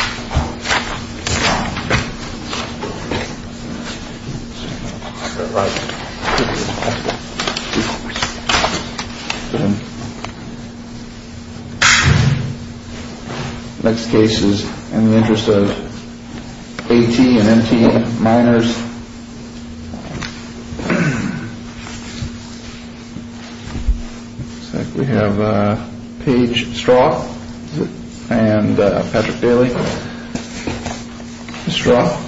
All right. Next case is in the interest of AT&T miners. We have Paige Straw and Patrick Daly. Ms. Straw.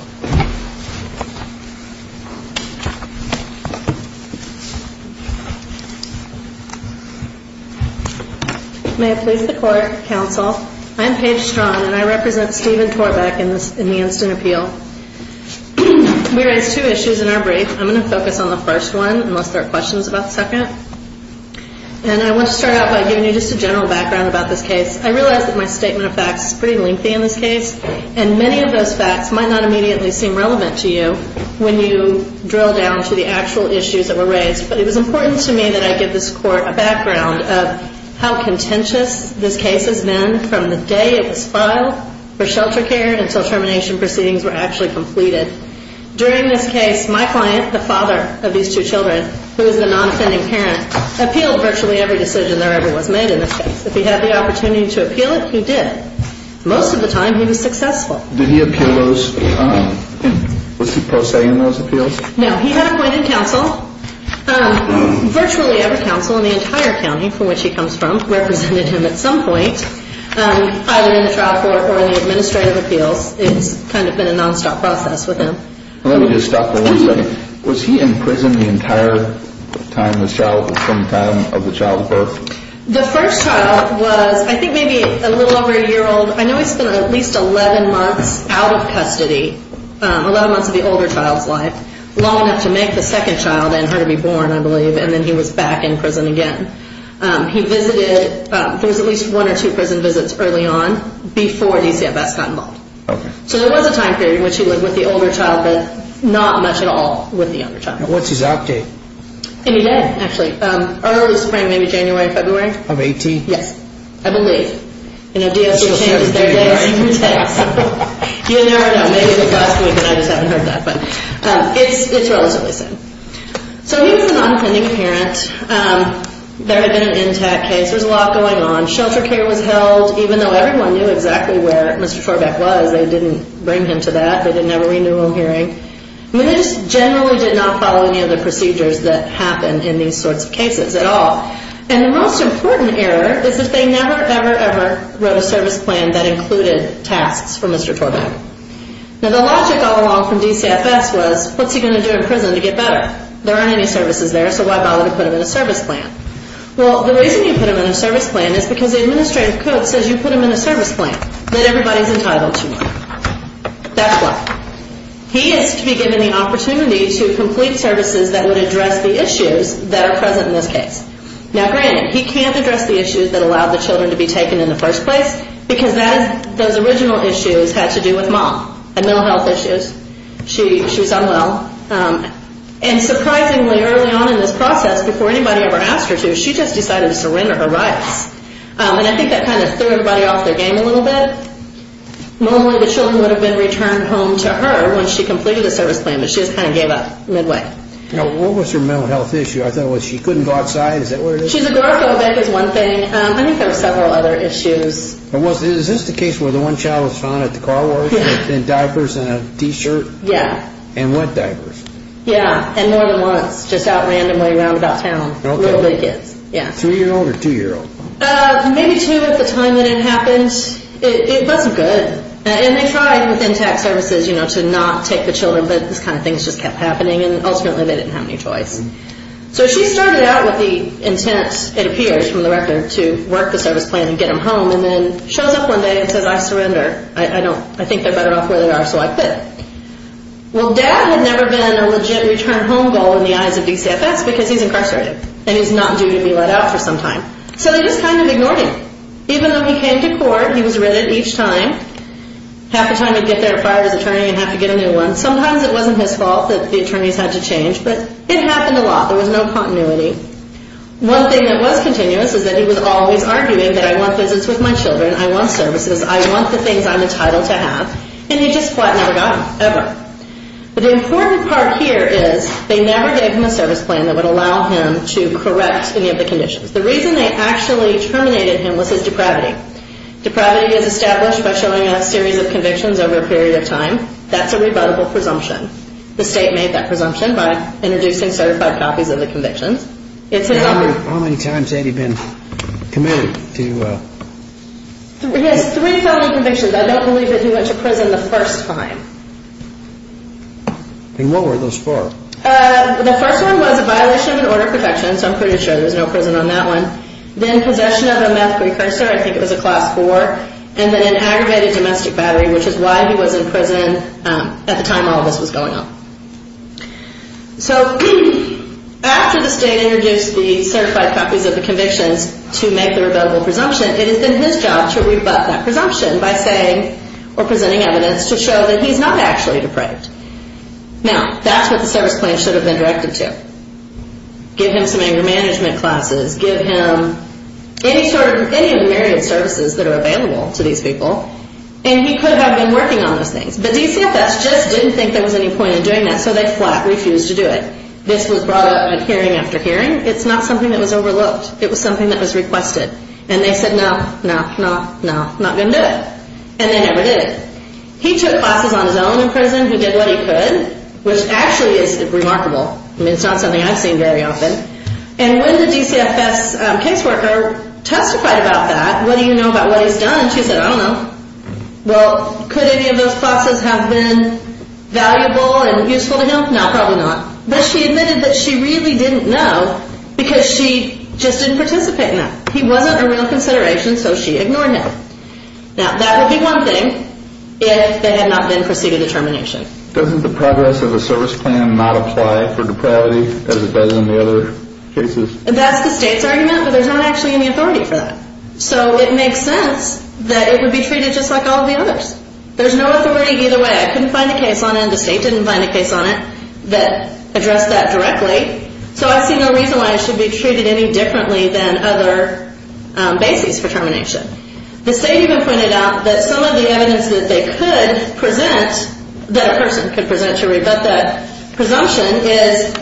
May it please the court, counsel, I'm Paige Straw and I represent Stephen Torbeck in the instant appeal. So we raised two issues in our brief. I'm going to focus on the first one unless there are questions about the second. And I want to start out by giving you just a general background about this case. I realize that my statement of facts is pretty lengthy in this case, and many of those facts might not immediately seem relevant to you when you drill down to the actual issues that were raised. But it was important to me that I give this court a background of how contentious this case has been from the day it was filed for shelter care until termination proceedings were actually completed. During this case, my client, the father of these two children, who is a non-offending parent, appealed virtually every decision there ever was made in this case. If he had the opportunity to appeal it, he did. Most of the time he was successful. Did he appeal those? Was he prosaic in those appeals? No. He had appointed counsel. Virtually every counsel in the entire county from which he comes from represented him at some point, either in the trial court or in the administrative appeals. It's kind of been a nonstop process with him. Let me just stop for one second. Was he in prison the entire time this child, from the time of the child's birth? The first child was I think maybe a little over a year old. I know he spent at least 11 months out of custody, 11 months of the older child's life, long enough to make the second child and her to be born, I believe, and then he was back in prison again. He visited, there was at least one or two prison visits early on before DCFS got involved. Okay. So there was a time period in which he lived with the older child, but not much at all with the younger child. And what's his outdate? Any day, actually. Early spring, maybe January, February. Of 18? Yes, I believe. You never know. Maybe it was last week and I just haven't heard that. But it's relatively soon. So he was an unpending parent. There had been an intact case. There was a lot going on. Shelter care was held. Even though everyone knew exactly where Mr. Torbeck was, they didn't bring him to that. They didn't have a renewal hearing. They just generally did not follow any of the procedures that happened in these sorts of cases at all. And the most important error is that they never, ever, ever wrote a service plan that included tasks for Mr. Torbeck. Now, the logic all along from DCFS was, what's he going to do in prison to get better? There aren't any services there, so why bother to put him in a service plan? Well, the reason you put him in a service plan is because the administrative code says you put him in a service plan, that everybody's entitled to one. That's why. He is to be given the opportunity to complete services that would address the issues that are present in this case. Now, granted, he can't address the issues that allowed the children to be taken in the first place because those original issues had to do with mom and mental health issues. She was unwell. And surprisingly, early on in this process, before anybody ever asked her to, she just decided to surrender her rights. And I think that kind of threw everybody off their game a little bit. Normally, the children would have been returned home to her when she completed the service plan, but she just kind of gave up midway. Now, what was her mental health issue? I thought, well, she couldn't go outside. Is that what it is? She's agoraphobic is one thing. I think there were several other issues. Is this the case where the one child was found at the car wash in diapers and a T-shirt? Yeah. And wet diapers. Yeah. And more than once, just out randomly around about town. Okay. Little big kids. Three-year-old or two-year-old? Maybe two at the time that it happened. And it wasn't good. And they tried with Intact Services, you know, to not take the children, but this kind of thing just kept happening, and ultimately they didn't have any choice. So she started out with the intent, it appears from the record, to work the service plan and get them home and then shows up one day and says, I surrender. I think they're better off where they are, so I quit. Well, Dad had never been a legit return home goal in the eyes of DCFS because he's incarcerated and he's not due to be let out for some time. So they just kind of ignored him. Even though he came to court, he was written each time, half the time he'd get there, fire his attorney and have to get a new one. Sometimes it wasn't his fault that the attorneys had to change, but it happened a lot. There was no continuity. One thing that was continuous is that he was always arguing that I want visits with my children, I want services, I want the things I'm entitled to have, and he just never got them, ever. But the important part here is they never gave him a service plan that would allow him to correct any of the conditions. The reason they actually terminated him was his depravity. Depravity is established by showing a series of convictions over a period of time. That's a rebuttable presumption. The state made that presumption by introducing certified copies of the convictions. How many times had he been committed to... He has three felony convictions. I don't believe that he went to prison the first time. And what were those for? The first one was a violation of an order of protection, so I'm pretty sure there's no prison on that one. Then possession of a meth precursor. I think it was a class four. And then an aggravated domestic battery, which is why he was in prison at the time all of this was going on. So after the state introduced the certified copies of the convictions to make the rebuttable presumption, it has been his job to rebut that presumption by saying or presenting evidence to show that he's not actually depraved. Now, that's what the service plan should have been directed to. Give him some anger management classes. Give him any of the myriad services that are available to these people. And he could have been working on those things. But DCFS just didn't think there was any point in doing that, so they flat refused to do it. This was brought up at hearing after hearing. It's not something that was overlooked. It was something that was requested. And they said, no, no, no, no, not going to do it. And they never did. He took classes on his own in prison. He did what he could, which actually is remarkable. I mean, it's not something I've seen very often. And when the DCFS caseworker testified about that, what do you know about what he's done, she said, I don't know. Well, could any of those classes have been valuable and useful to him? No, probably not. But she admitted that she really didn't know because she just didn't participate in that. He wasn't a real consideration, so she ignored him. Now, that would be one thing if there had not been procedure determination. Doesn't the progress of a service plan not apply for depravity as it does in the other cases? That's the state's argument, but there's not actually any authority for that. So it makes sense that it would be treated just like all the others. There's no authority either way. I couldn't find a case on it, and the state didn't find a case on it that addressed that directly. So I see no reason why it should be treated any differently than other bases for termination. The state even pointed out that some of the evidence that they could present, that a person could present, but the presumption is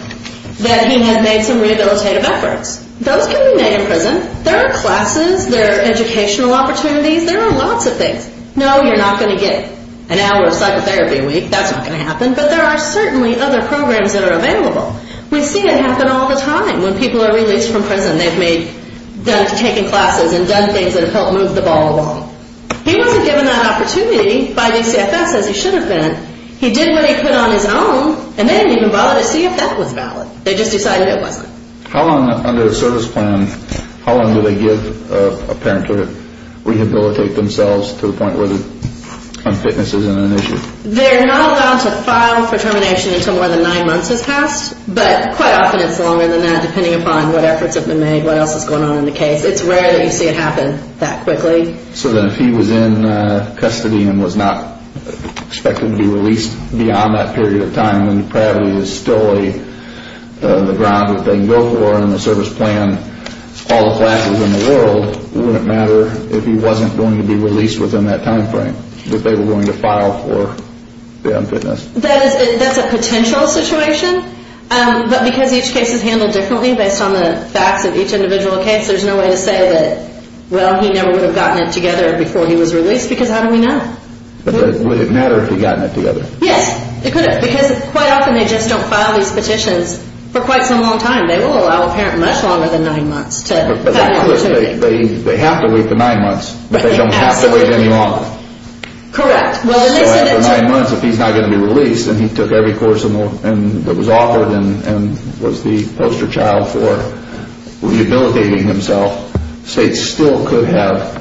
that he had made some rehabilitative efforts. Those can be made in prison. There are classes. There are educational opportunities. There are lots of things. No, you're not going to get an hour of psychotherapy a week. That's not going to happen. But there are certainly other programs that are available. We've seen it happen all the time. When people are released from prison, they've taken classes and done things that have helped move the ball along. He wasn't given that opportunity by DCFS, as he should have been. He did what he put on his own, and they didn't even bother to see if that was valid. They just decided it wasn't. How long under a service plan, how long do they give a parent to rehabilitate themselves to the point where the unfitness is an issue? They're not allowed to file for termination until more than nine months has passed, but quite often it's longer than that, depending upon what efforts have been made, what else is going on in the case. It's rare that you see it happen that quickly. So then if he was in custody and was not expected to be released beyond that period of time when probably there's still the ground that they can go for in the service plan, all the classes in the world, it wouldn't matter if he wasn't going to be released within that time frame that they were going to file for the unfitness. That's a potential situation, but because each case is handled differently based on the facts of each individual case, there's no way to say that, well, he never would have gotten it together before he was released, because how do we know? But would it matter if he'd gotten it together? Yes, it could have, because quite often they just don't file these petitions for quite some long time. They will allow a parent much longer than nine months to have an opportunity. But they have to wait for nine months, but they don't have to wait any longer. Correct. If he's not going to be released and he took every course that was offered and was the poster child for rehabilitating himself, states still could have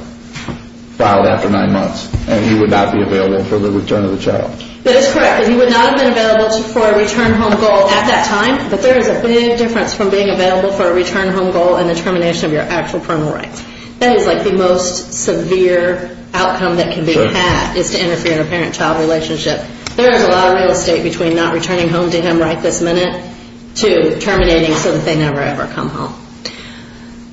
filed after nine months and he would not be available for the return of the child. That is correct. He would not have been available for a return home goal at that time, but there is a big difference from being available for a return home goal and the termination of your actual parental rights. That is like the most severe outcome that can be had, is to interfere in a parent-child relationship. There is a lot of real estate between not returning home to him right this minute to terminating so that they never ever come home.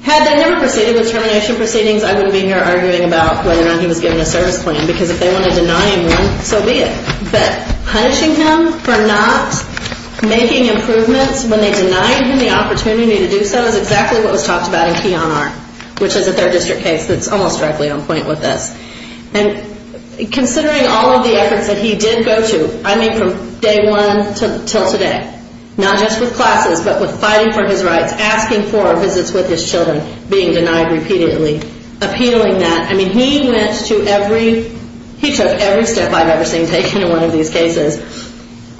Had they never proceeded with termination proceedings, I wouldn't be here arguing about whether or not he was given a service claim, because if they wanted to deny him one, so be it. But punishing him for not making improvements when they denied him the opportunity to do so was exactly what was talked about in Keonar, which is a third district case that is almost directly on point with this. Considering all of the efforts that he did go to, I mean from day one until today, not just with classes, but with fighting for his rights, asking for visits with his children, being denied repeatedly, appealing that. He took every step I have ever seen taken in one of these cases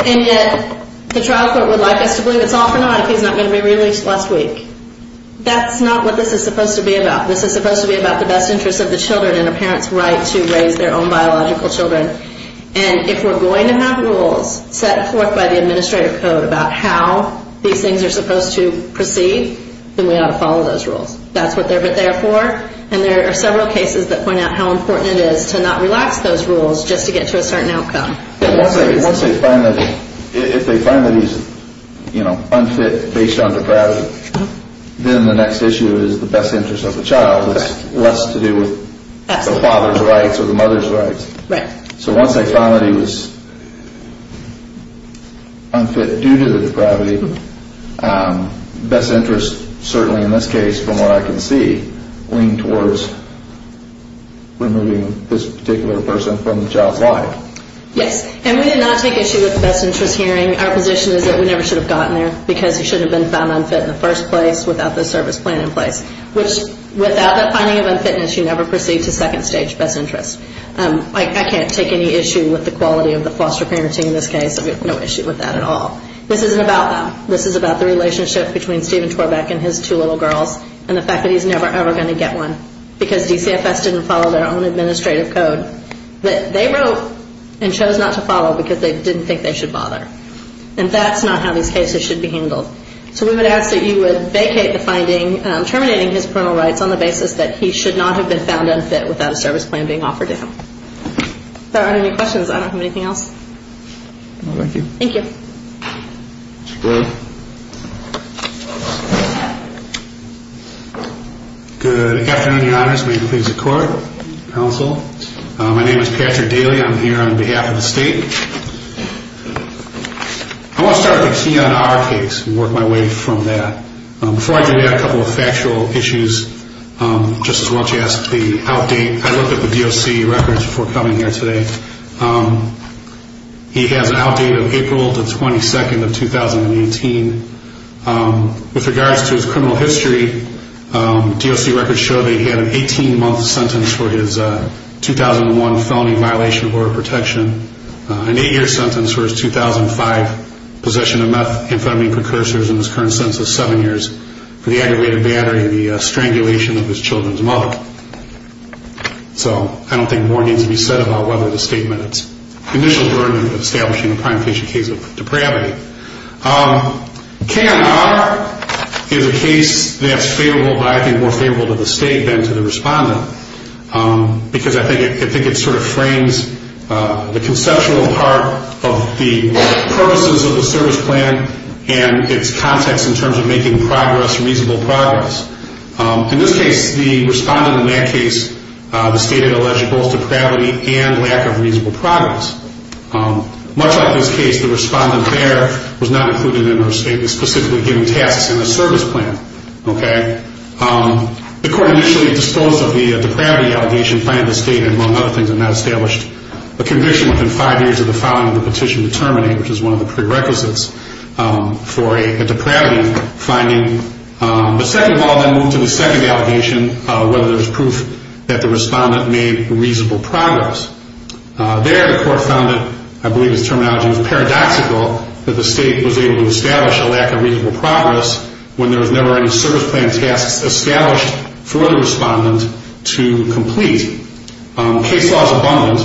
and yet the trial court would like us to believe it is all for naught like he's not going to be released last week. That's not what this is supposed to be about. This is supposed to be about the best interest of the children and a parent's right to raise their own biological children. And if we're going to have rules set forth by the Administrator Code about how these things are supposed to proceed, then we ought to follow those rules. That's what they're there for. And there are several cases that point out how important it is to not relax those rules just to get to a certain outcome. Once they find that he's unfit based on depravity, then the next issue is the best interest of the child. It's less to do with the father's rights or the mother's rights. So once they found that he was unfit due to the depravity, best interest certainly in this case from what I can see would lean towards removing this particular person from the child's life. Yes, and we did not take issue with the best interest hearing. Our position is that we never should have gotten there because he shouldn't have been found unfit in the first place without the service plan in place, which without that finding of unfitness, you never proceed to second stage best interest. I can't take any issue with the quality of the foster parenting in this case. I have no issue with that at all. This isn't about that. This is about the relationship between Stephen Torbeck and his two little girls and the fact that he's never, ever going to get one because DCFS didn't follow their own administrative code that they wrote and chose not to follow because they didn't think they should bother. And that's not how these cases should be handled. So we would ask that you would vacate the finding terminating his parental rights on the basis that he should not have been found unfit without a service plan being offered to him. If there aren't any questions, I don't have anything else. Thank you. Thank you. Good afternoon, Your Honors. May it please the Court, Counsel. My name is Patrick Daly. I'm here on behalf of the State. I want to start by focusing on our case and work my way from that. Before I do that, a couple of factual issues. Justice Welch asked the outdate. I looked at the DOC records before coming here today. He has an outdate of April 22, 2018. With regards to his criminal history, DOC records show that he had an 18-month sentence for his 2001 felony violation of border protection, an eight-year sentence for his 2005 possession of methamphetamine precursors in his current sentence of seven years for the aggravated battery and the strangulation of his children's mother. So I don't think more needs to be said about whether the State met its initial burden of establishing a primary case of depravity. K&R is a case that's favorable, but I think more favorable to the State than to the Respondent because I think it sort of frames the conceptual part of the purposes of the service plan and its context in terms of making progress reasonable progress. In this case, the Respondent in that case, the State had alleged both depravity and lack of reasonable progress. Much like this case, the Respondent there was not included in our State, was specifically given tasks in the service plan. The Court initially disposed of the depravity allegation, finding the State, among other things, had not established a conviction within five years of the filing of the petition to terminate, which is one of the prerequisites for a depravity finding. But second of all, then moved to the second allegation, whether there was proof that the Respondent made reasonable progress. There, the Court found that, I believe this terminology was paradoxical, that the State was able to establish a lack of reasonable progress when there was never any service plan tasks established for the Respondent to complete. Case law is abundant.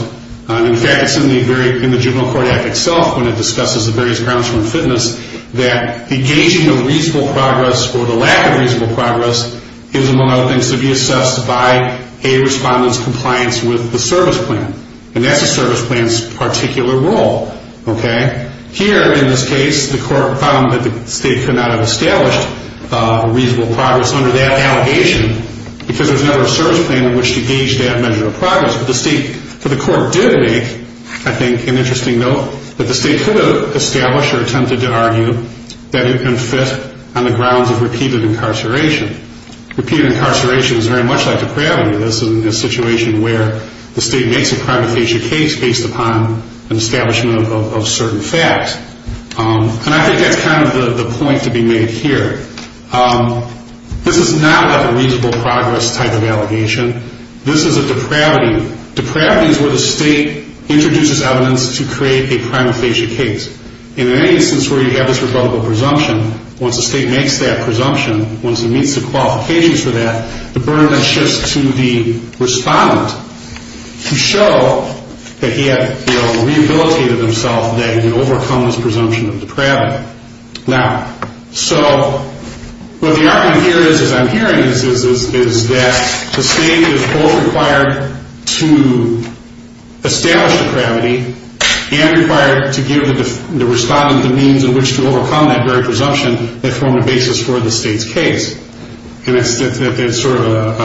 In fact, it's in the Juvenile Court Act itself, when it discusses the various grounds for unfitness, that engaging in reasonable progress or the lack of reasonable progress is, among other things, to be assessed by a Respondent's compliance with the service plan. And that's the service plan's particular role. Here, in this case, the Court found that the State could not have established reasonable progress under that allegation But the Court did make, I think, an interesting note, that the State could have established or attempted to argue that it can fit on the grounds of repeated incarceration. Repeated incarceration is very much like depravity. This is a situation where the State makes a privatization case based upon an establishment of certain facts. And I think that's kind of the point to be made here. This is not like a reasonable progress type of allegation. This is a depravity. Depravity is where the State introduces evidence to create a prima facie case. And in any instance where you have this rebuttable presumption, once the State makes that presumption, once it meets the qualifications for that, the burden then shifts to the Respondent to show that he had rehabilitated himself, that he had overcome this presumption of depravity. So what the argument here is, as I'm hearing this, is that the State is both required to establish depravity and required to give the Respondent the means in which to overcome that very presumption that form the basis for the State's case. And it's sort of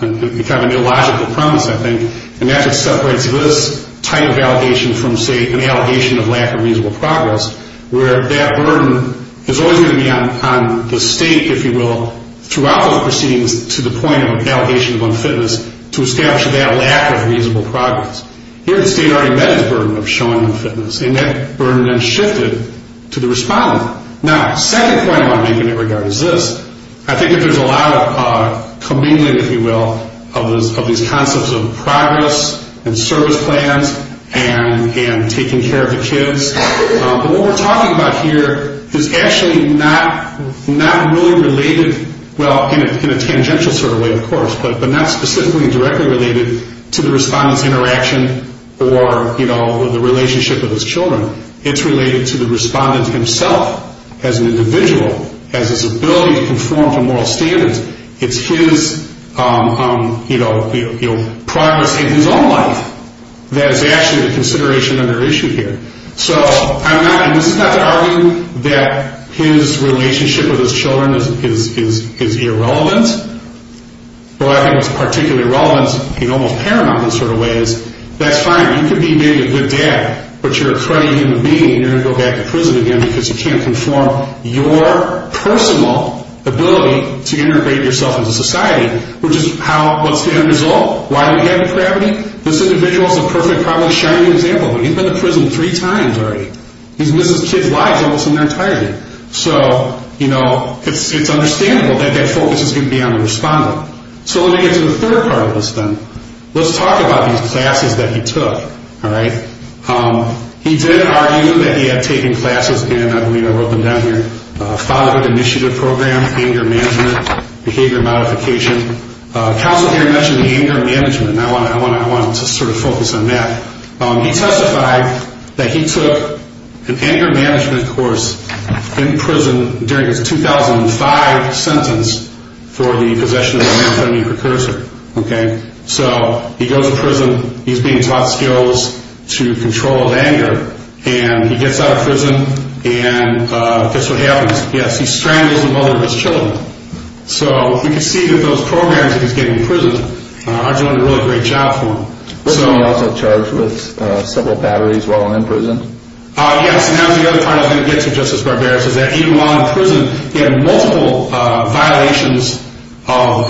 an illogical premise, I think, in that it separates this type of allegation from, say, an allegation of lack of reasonable progress, where that burden is always going to be on the State, if you will, throughout those proceedings to the point of an allegation of unfitness to establish that lack of reasonable progress. Here the State already met its burden of showing unfitness, and that burden then shifted to the Respondent. Now, the second point I want to make in that regard is this. I think that there's a lot of commingling, if you will, of these concepts of progress and service plans and taking care of the kids. But what we're talking about here is actually not really related, well, in a tangential sort of way, of course, but not specifically directly related to the Respondent's interaction or the relationship with his children. It's related to the Respondent himself as an individual, as his ability to conform to moral standards. It's his progress in his own life that is actually the consideration under issue here. So I'm not, and this is not to argue that his relationship with his children is irrelevant. What I think is particularly relevant, in an almost paramount sort of way, is that's fine, you could be maybe a good dad, but you're a cruddy human being and you're going to go back to prison again because you can't conform your personal ability to integrate yourself into society, which is how, what's the end result? Why do we have depravity? This individual is a perfect, probably shining example of it. He's missed three times already. He's missed his kids' lives almost in their entirety. So, you know, it's understandable that that focus is going to be on the Respondent. So let me get to the third part of this then. Let's talk about these classes that he took, all right? He did argue that he had taken classes in, I believe I wrote them down here, a fatherhood initiative program, anger management, behavior modification. Counsel here mentioned anger management, and I want to sort of focus on that. He testified that he took an anger management course in prison during his 2005 sentence for the possession of a male feminine precursor, okay? So he goes to prison, he's being taught skills to control anger, and he gets out of prison and guess what happens? Yes, he strangles the mother of his children. So we can see that those programs that he's getting in prison are doing a really great job for him. Wasn't he also charged with several batteries while in prison? Yes, and that was the other part I was going to get to, Justice Barbera, is that even while in prison he had multiple violations of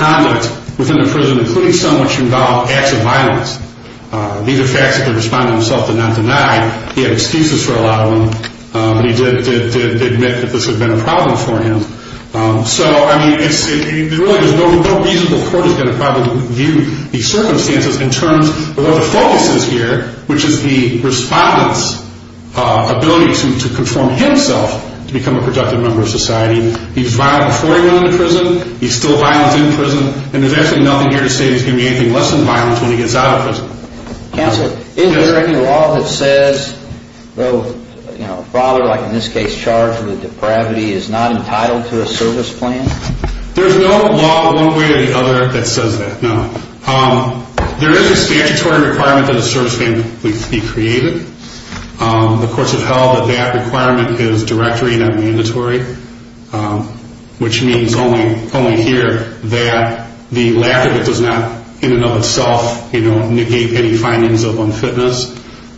conduct within the prison, including some which involved acts of violence. These are facts that the Respondent himself did not deny. He had excuses for a lot of them, but he did admit that this had been a problem for him. So, I mean, really there's no reasonable court is going to probably view these circumstances in terms of what the focus is here, which is the Respondent's ability to conform himself to become a productive member of society. He's violent before he went into prison, he's still violent in prison, and there's actually nothing here to say that he's going to be anything less than violent when he gets out of prison. Counsel, is there any law that says, you know, a father, like in this case, who is charged with depravity is not entitled to a service plan? There's no law one way or the other that says that, no. There is a statutory requirement that a service plan be created. The courts have held that that requirement is directory, not mandatory, which means only here that the lack of it does not, in and of itself, negate any findings of unfitness.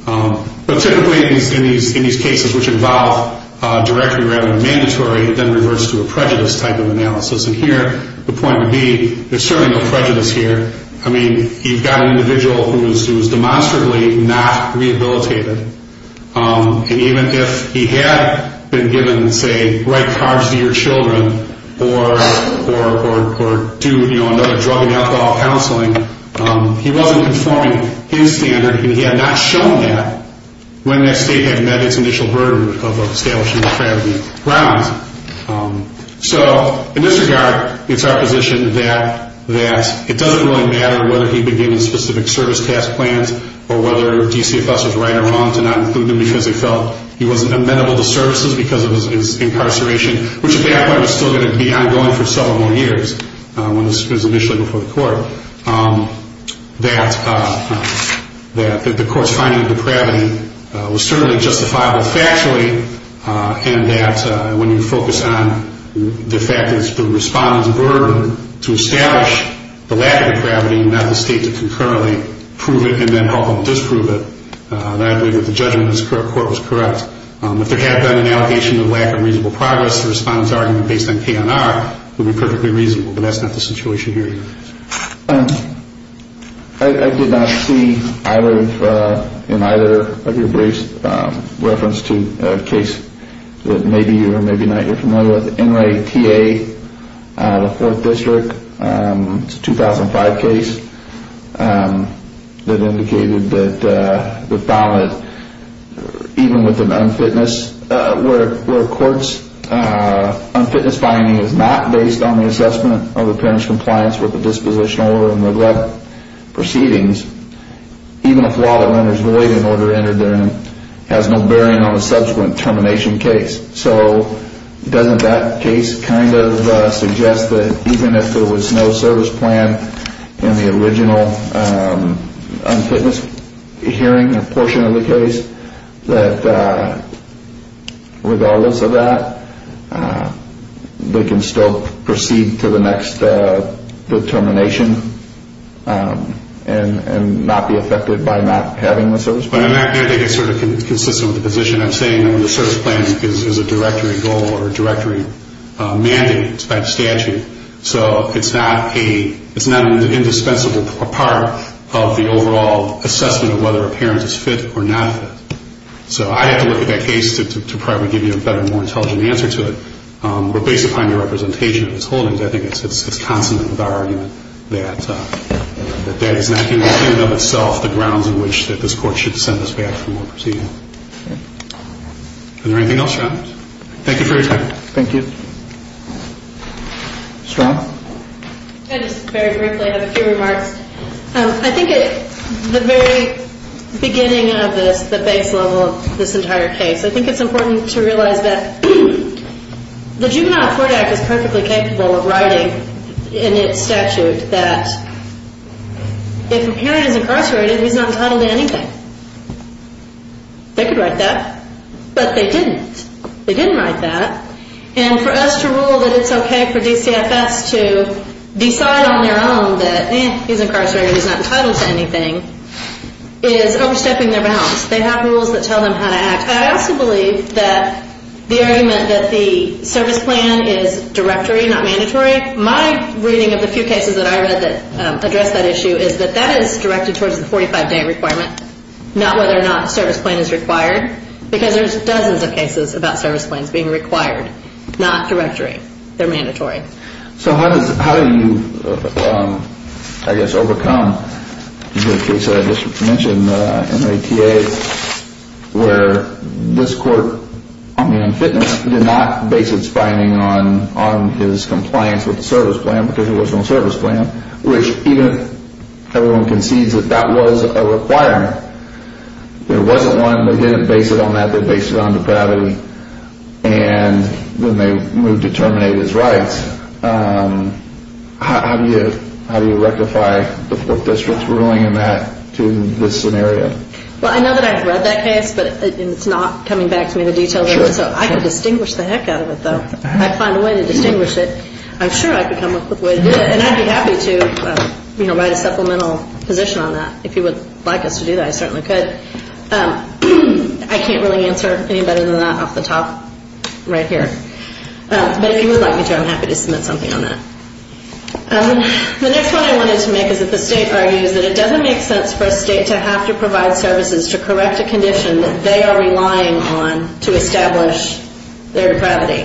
But typically in these cases which involve directory rather than mandatory, it then reverts to a prejudice type of analysis. And here the point would be there's certainly no prejudice here. I mean, you've got an individual who is demonstrably not rehabilitated. And even if he had been given, say, right carbs to your children, or do, you know, another drug and alcohol counseling, he wasn't conforming his standard, and he had not shown that when that state had met its initial burden of establishing depravity grounds. So in this regard, it's our position that it doesn't really matter whether he'd been given specific service task plans or whether DCFS was right or wrong to not include him because they felt he wasn't amenable to services because of his incarceration, which at that point was still going to be ongoing for several more years when this was initially before the court, that the court's finding of depravity was certainly justifiable factually and that when you focus on the fact that it's the respondent's burden to establish the lack of depravity and not the state to concurrently prove it and then help them disprove it, I agree that the judgment in this court was correct. If there had been an allegation of lack of reasonable progress, the respondent's argument based on K&R would be perfectly reasonable, but that's not the situation here either. I did not see either of your briefs reference to a case that maybe you or maybe not you're familiar with. NRA TA, the 4th District, it's a 2005 case that indicated that the felon, even with an unfitness where a court's unfitness finding is not based on the assessment of the parent's compliance with the dispositional order and neglect proceedings, even if the law that renders void an order entered therein has no bearing on a subsequent termination case. So doesn't that case kind of suggest that even if there was no service plan in the original unfitness hearing portion of the case, that regardless of that, they can still proceed to the next termination and not be affected by not having the service plan? I think it's sort of consistent with the position I'm saying. The service plan is a directory goal or a directory mandate. It's by statute. So it's not an indispensable part of the overall assessment of whether a parent is fit or not fit. So I have to look at that case to probably give you a better, more intelligent answer to it. But based upon your representation of his holdings, I think it's consonant with our argument that that is not in and of itself the grounds on which this court should send us back for more proceedings. Is there anything else, John? Thank you for your time. Thank you. Ms. Ross? Just very briefly, I have a few remarks. I think at the very beginning of this, the base level of this entire case, I think it's important to realize that the Juvenile Court Act is perfectly capable of writing in its statute that if a parent is incarcerated, he's not entitled to anything. They could write that, but they didn't. They didn't write that. And for us to rule that it's okay for DCFS to decide on their own that he's incarcerated, he's not entitled to anything, is overstepping their bounds. They have rules that tell them how to act. I also believe that the argument that the service plan is directory, not mandatory, my reading of the few cases that I read that address that issue is that that is directed towards the 45-day requirement, not whether or not a service plan is required, because there's dozens of cases about service plans being required, not directory. They're mandatory. So how do you, I guess, overcome the case that I just mentioned, MATA, where this court, on the unfitness, did not base its finding on his compliance with the service plan because there was no service plan, which even if everyone concedes that that was a requirement, there wasn't one, they didn't base it on that, they based it on depravity, and then they moved to terminate his rights. How do you rectify the district's ruling in that, to this scenario? Well, I know that I've read that case, but it's not coming back to me in the details of it, so I could distinguish the heck out of it, though. I'd find a way to distinguish it. I'm sure I could come up with a way to do it, and I'd be happy to write a supplemental position on that. If you would like us to do that, I certainly could. I can't really answer any better than that off the top right here. But if you would like me to, I'm happy to submit something on that. The next point I wanted to make is that the state argues that it doesn't make sense for a state to have to provide services to correct a condition that they are relying on to establish their depravity.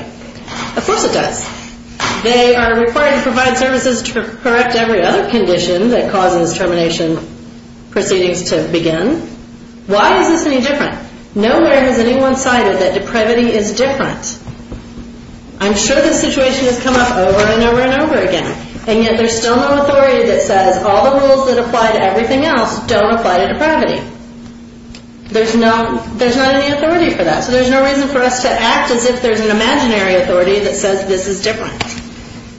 Of course it does. They are required to provide services to correct every other condition that causes termination proceedings to begin. Why is this any different? Nowhere has anyone cited that depravity is different. I'm sure this situation has come up over and over and over again, and yet there's still no authority that says all the rules that apply to everything else don't apply to depravity. There's not any authority for that, so there's no reason for us to act as if there's an imaginary authority that says this is different.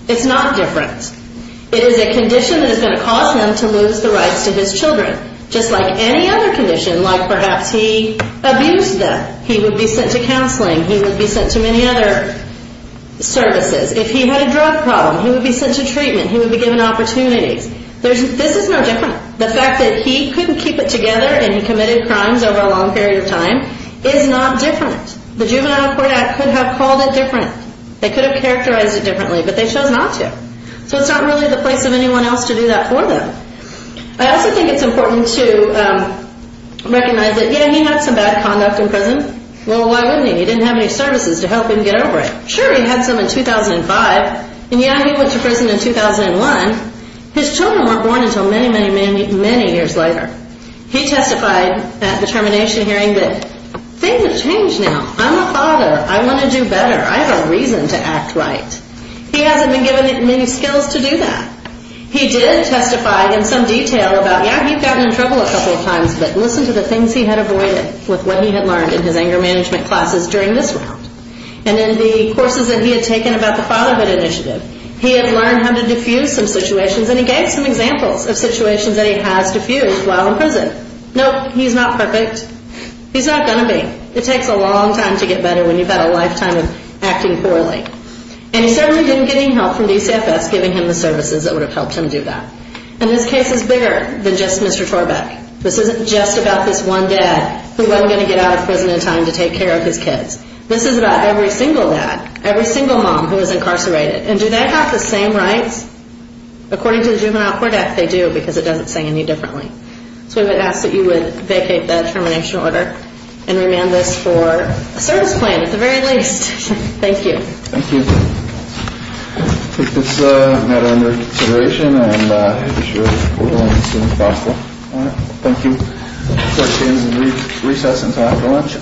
It's not different. It is a condition that is going to cause him to lose the rights to his children, just like any other condition, like perhaps he abused them. He would be sent to counseling. He would be sent to many other services. If he had a drug problem, he would be sent to treatment. He would be given opportunities. This is no different. The fact that he couldn't keep it together and he committed crimes over a long period of time is not different. The Juvenile Court Act could have called it different. They could have characterized it differently, but they chose not to. So it's not really the place of anyone else to do that for them. I also think it's important to recognize that, yeah, he had some bad conduct in prison. Well, why wouldn't he? He didn't have any services to help him get over it. Sure, he had some in 2005, and, yeah, he went to prison in 2001. His children weren't born until many, many, many, many years later. He testified at the termination hearing that things have changed now. I'm a father. I want to do better. I have a reason to act right. He hasn't been given many skills to do that. He did testify in some detail about, yeah, he'd gotten in trouble a couple of times, but listen to the things he had avoided with what he had learned in his anger management classes during this round. And in the courses that he had taken about the fatherhood initiative, he had learned how to defuse some situations, and he gave some examples of situations that he has defused while in prison. Nope, he's not perfect. He's not going to be. It takes a long time to get better when you've had a lifetime of acting poorly. And he certainly didn't get any help from DCFS giving him the services that would have helped him do that. And this case is bigger than just Mr. Torbeck. This isn't just about this one dad who wasn't going to get out of prison in time to take care of his kids. This is about every single dad, every single mom who was incarcerated. And do they have the same rights? According to the Juvenile Court Act, they do because it doesn't say any differently. So I would ask that you would vacate that termination order and remand this for a service plan at the very least. Thank you. Thank you. Take this matter into consideration and issue a report as soon as possible. Thank you. Court is in recess until after lunch.